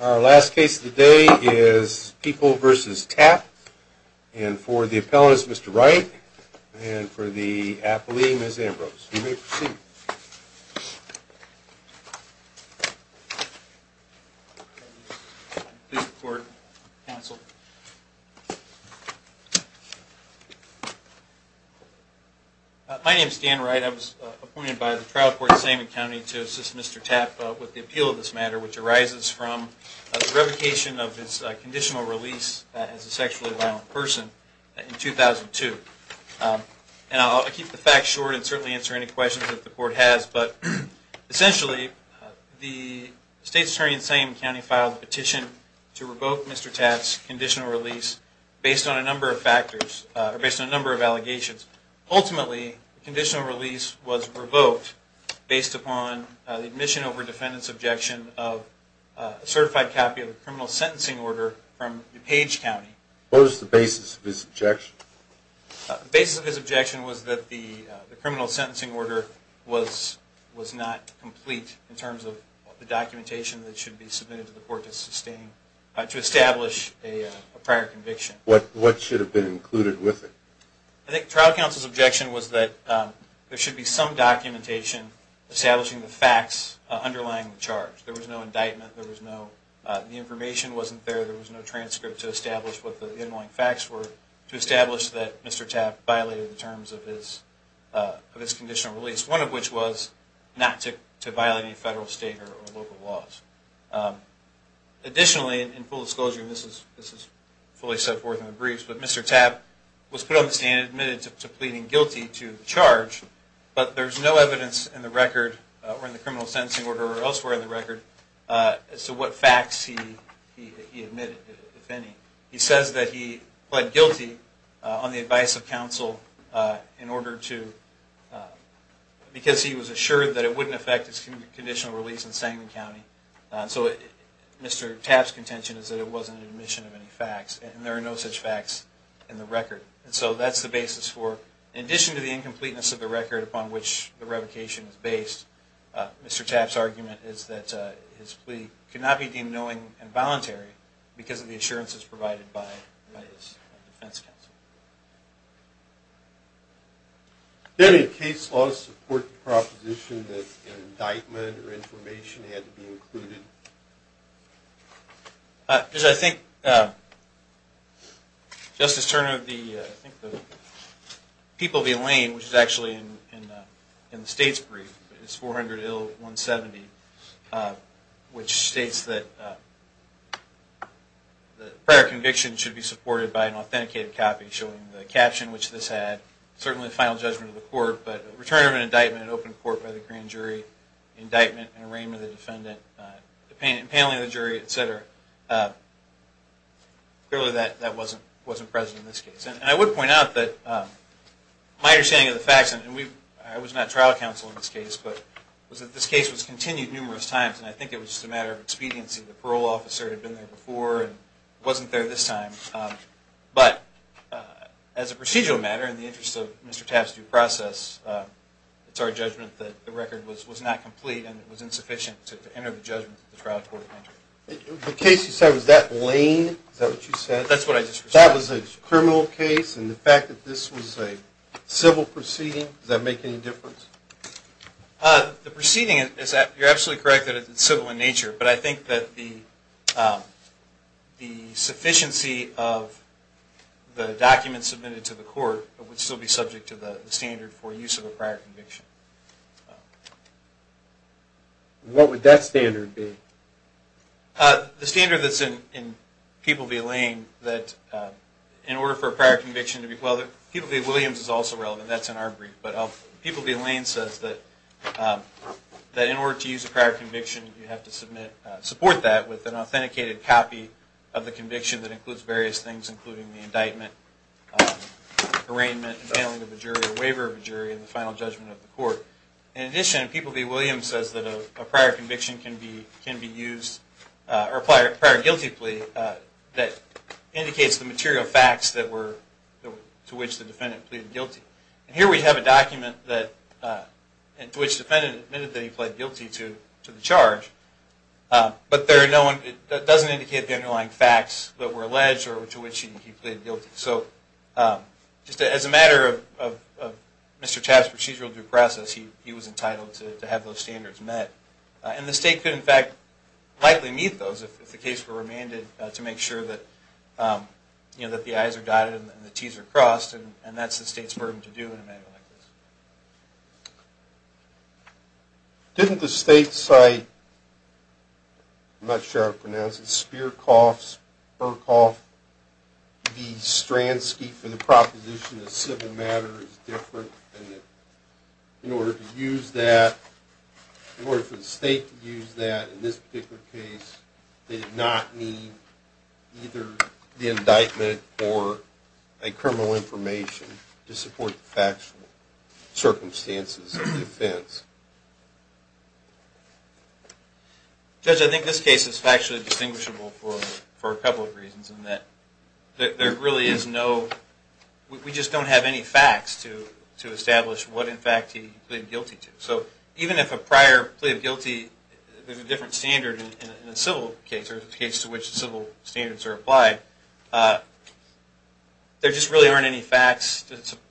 Our last case of the day is People v. Tapp, and for the appellant is Mr. Wright, and for the appellee Ms. Ambrose. You may proceed. My name is Dan Wright. I was appointed by the trial court in Saman County to assist Mr. Tapp with the appeal of this matter, which arises from the revocation of his conditional release as a sexually violent person in 2002. And I'll keep the facts short and certainly answer any questions that the court has, but essentially, the state's attorney in Saman County filed a petition to revoke Mr. Tapp's conditional release based on a number of factors, or based on a number of allegations. Ultimately, the conditional release was revoked based upon the admission over defendant's objection of a certified copy of the criminal sentencing order from DuPage County. What was the basis of his objection? The basis of his objection was that the criminal sentencing order was not complete in terms of the documentation that should be submitted to the court to establish a prior conviction. What should have been included with it? I think trial counsel's objection was that there should be some documentation establishing the facts underlying the charge. There was no indictment, there was no, the information wasn't there, there was no transcript to establish what the inlying facts were to establish that Mr. Tapp violated the terms of his conditional release, one of which was not to violate any federal, state, or local laws. Additionally, in full disclosure, and this is fully set forth in the briefs, but Mr. Tapp was put on the stand and admitted to pleading guilty to the charge, but there's no evidence in the record, or in the criminal sentencing order or elsewhere in the record, as to what facts he admitted, if any. He says that he pled guilty on the advice of counsel in order to, because he was assured that it wouldn't affect his conditional release in Sangamon County. So Mr. Tapp's contention is that it wasn't an admission of any facts, and there are no such facts in the record. And so that's the basis for, in addition to the incompleteness of the record upon which the revocation is based, Mr. Tapp's argument is that his plea could not be deemed knowing and voluntary because of the assurances provided by his defense counsel. Does any case law support the proposition that an indictment or information had to be included? I think Justice Turner of the People v. Lane, which is actually in the state's brief, it's 400 ill 170, which states that prior conviction should be supported by an authenticated copy, showing the caption which this had, certainly the final judgment of the court, but return of an indictment at open court by the grand jury, indictment, and arraignment of the defendant. Impaling of the jury, et cetera. Clearly that wasn't present in this case. And I would point out that my understanding of the facts, and I was not trial counsel in this case, but this case was continued numerous times, and I think it was just a matter of expediency. The parole officer had been there before and wasn't there this time. But as a procedural matter, in the interest of Mr. Tapp's due process, it's our judgment that the record was not complete and it was insufficient to enter the judgment that the trial court entered. The case you said, was that Lane? Is that what you said? That's what I just said. That was a criminal case, and the fact that this was a civil proceeding, does that make any difference? The proceeding, you're absolutely correct that it's civil in nature, but I think that the sufficiency of the documents submitted to the court would still be subject to the standard for use of a prior conviction. What would that standard be? The standard that's in People v. Lane, that in order for a prior conviction to be, well, People v. Williams is also relevant. That's in our brief. But People v. Lane says that in order to use a prior conviction, you have to support that with an authenticated copy of the conviction that includes various things, including the indictment, arraignment, impaling of a jury, or waiver of a jury, and the final judgment of the court. In addition, People v. Williams says that a prior conviction can be used, or a prior guilty plea, that indicates the material facts to which the defendant pleaded guilty. Here we have a document to which the defendant admitted that he pled guilty to the charge, but it doesn't indicate the underlying facts that were alleged or to which he pleaded guilty. So just as a matter of Mr. Tapp's procedural due process, he was entitled to have those standards met. And the state could, in fact, likely meet those if the case were remanded to make sure that the I's are dotted and the T's are crossed, and that's the state's burden to do in a matter like this. Didn't the state cite, I'm not sure how to pronounce it, Spierkhoff v. Stransky for the proposition that civil matter is different, and that in order for the state to use that in this particular case, they did not need either the indictment or a criminal information to support the factual? Circumstances of defense. Judge, I think this case is factually distinguishable for a couple of reasons, in that there really is no, we just don't have any facts to establish what, in fact, he pleaded guilty to. So even if a prior plea of guilty, there's a different standard in a civil case, or a case to which civil standards are applied. There just really aren't any facts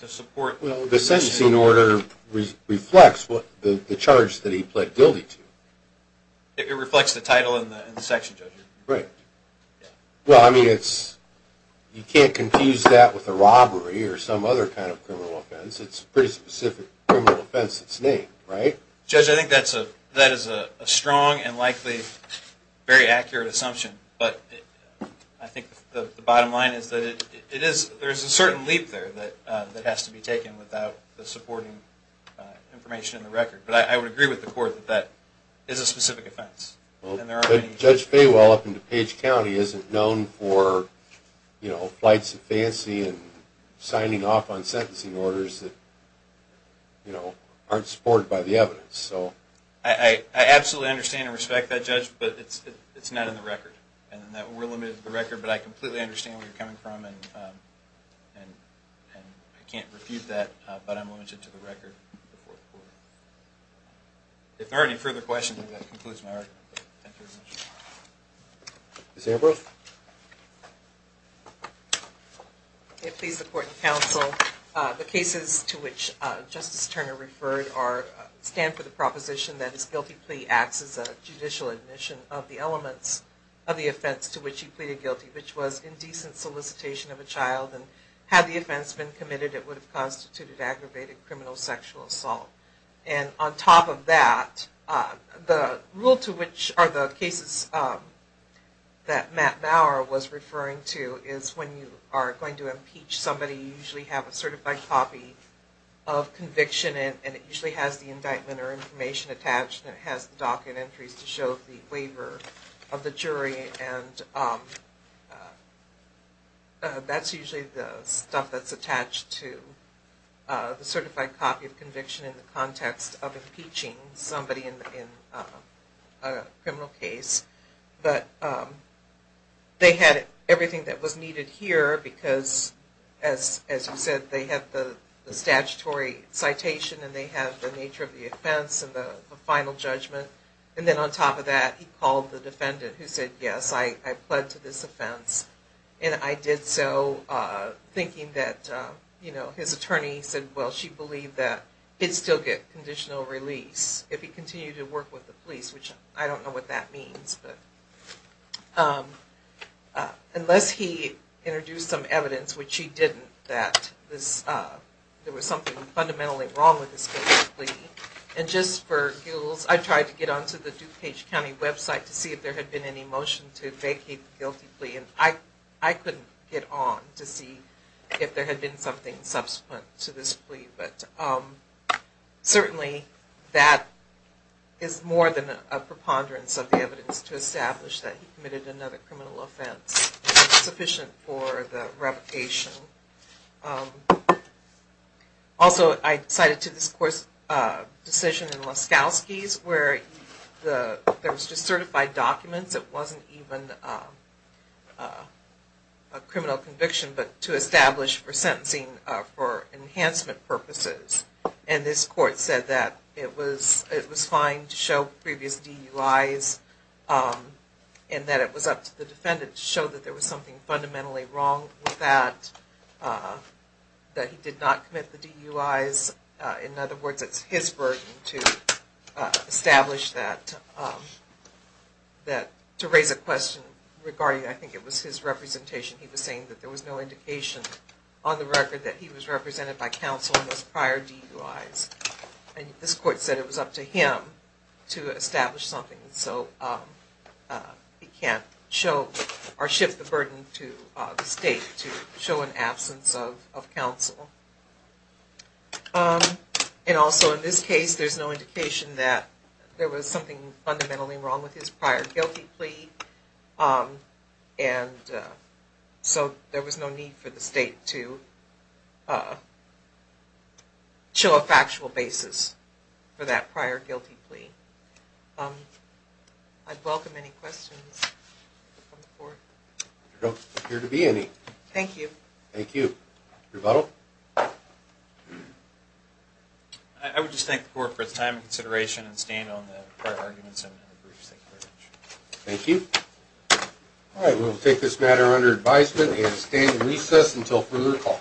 to support. Well, the sentencing order reflects the charge that he pled guilty to. It reflects the title in the section, Judge. Right. Well, I mean, it's, you can't confuse that with a robbery or some other kind of criminal offense. It's a pretty specific criminal offense that's named, right? Judge, I think that is a strong and likely very accurate assumption. But I think the bottom line is that it is, there's a certain leap there that has to be taken without the supporting information in the record. But I would agree with the court that that is a specific offense. But Judge Faywell up in DuPage County isn't known for, you know, flights of fancy and signing off on sentencing orders that, you know, aren't supported by the evidence. I absolutely understand and respect that, Judge, but it's not in the record. And that we're limited to the record, but I completely understand where you're coming from and I can't refute that, but I'm limited to the record. If there are any further questions, that concludes my argument. Thank you very much. Ms. Ambrose? May it please the Court and Counsel, the cases to which Justice Turner referred stand for the proposition that his guilty plea acts as a judicial admission of the elements of the offense to which he pleaded guilty, rather than had the offense been committed, it would have constituted aggravated criminal sexual assault. And on top of that, the rule to which, or the cases that Matt Bauer was referring to, is when you are going to impeach somebody, you usually have a certified copy of conviction and it usually has the indictment or information attached and it has the docket entries to show the waiver of the jury. And that's usually the stuff that's attached to the certified copy of conviction in the context of impeaching somebody in a criminal case. But they had everything that was needed here because, as you said, they had the statutory citation and they had the nature of the offense and the final judgment. And then on top of that, he called the defendant who said, yes, I pled to this offense. And I did so thinking that, you know, his attorney said, well, she believed that he'd still get conditional release if he continued to work with the police, which I don't know what that means. Unless he introduced some evidence, which he didn't, that there was something fundamentally wrong with his guilty plea. And just for gills, I tried to get onto the DuPage County website to see if there had been any motion to vacate the guilty plea. And I couldn't get on to see if there had been something subsequent to this plea. But certainly that is more than a preponderance of the evidence to establish that he committed another criminal offense sufficient for the revocation. Also, I cited to this court's decision in Laskowski's where there was just certified documents. It wasn't even a criminal conviction, but to establish for sentencing for enhancement purposes. And this court said that it was fine to show previous DUIs and that it was up to the defendant to show that there was something fundamentally wrong with that, that he did not commit the DUIs. In other words, it's his burden to establish that, to raise a question regarding, I think it was his representation. He was saying that there was no indication on the record that he was represented by counsel in those prior DUIs. And this court said it was up to him to establish something. So he can't show or shift the burden to the state to show an absence of counsel. And also in this case, there's no indication that there was something fundamentally wrong with his prior guilty plea. And so there was no need for the state to show a factual basis for that prior guilty plea. I'd welcome any questions from the court. There don't appear to be any. Thank you. Thank you. Rebuttal? I would just thank the court for its time and consideration and staying on the prior arguments and the briefs. Thank you. All right. We'll take this matter under advisement and stand in recess until further call.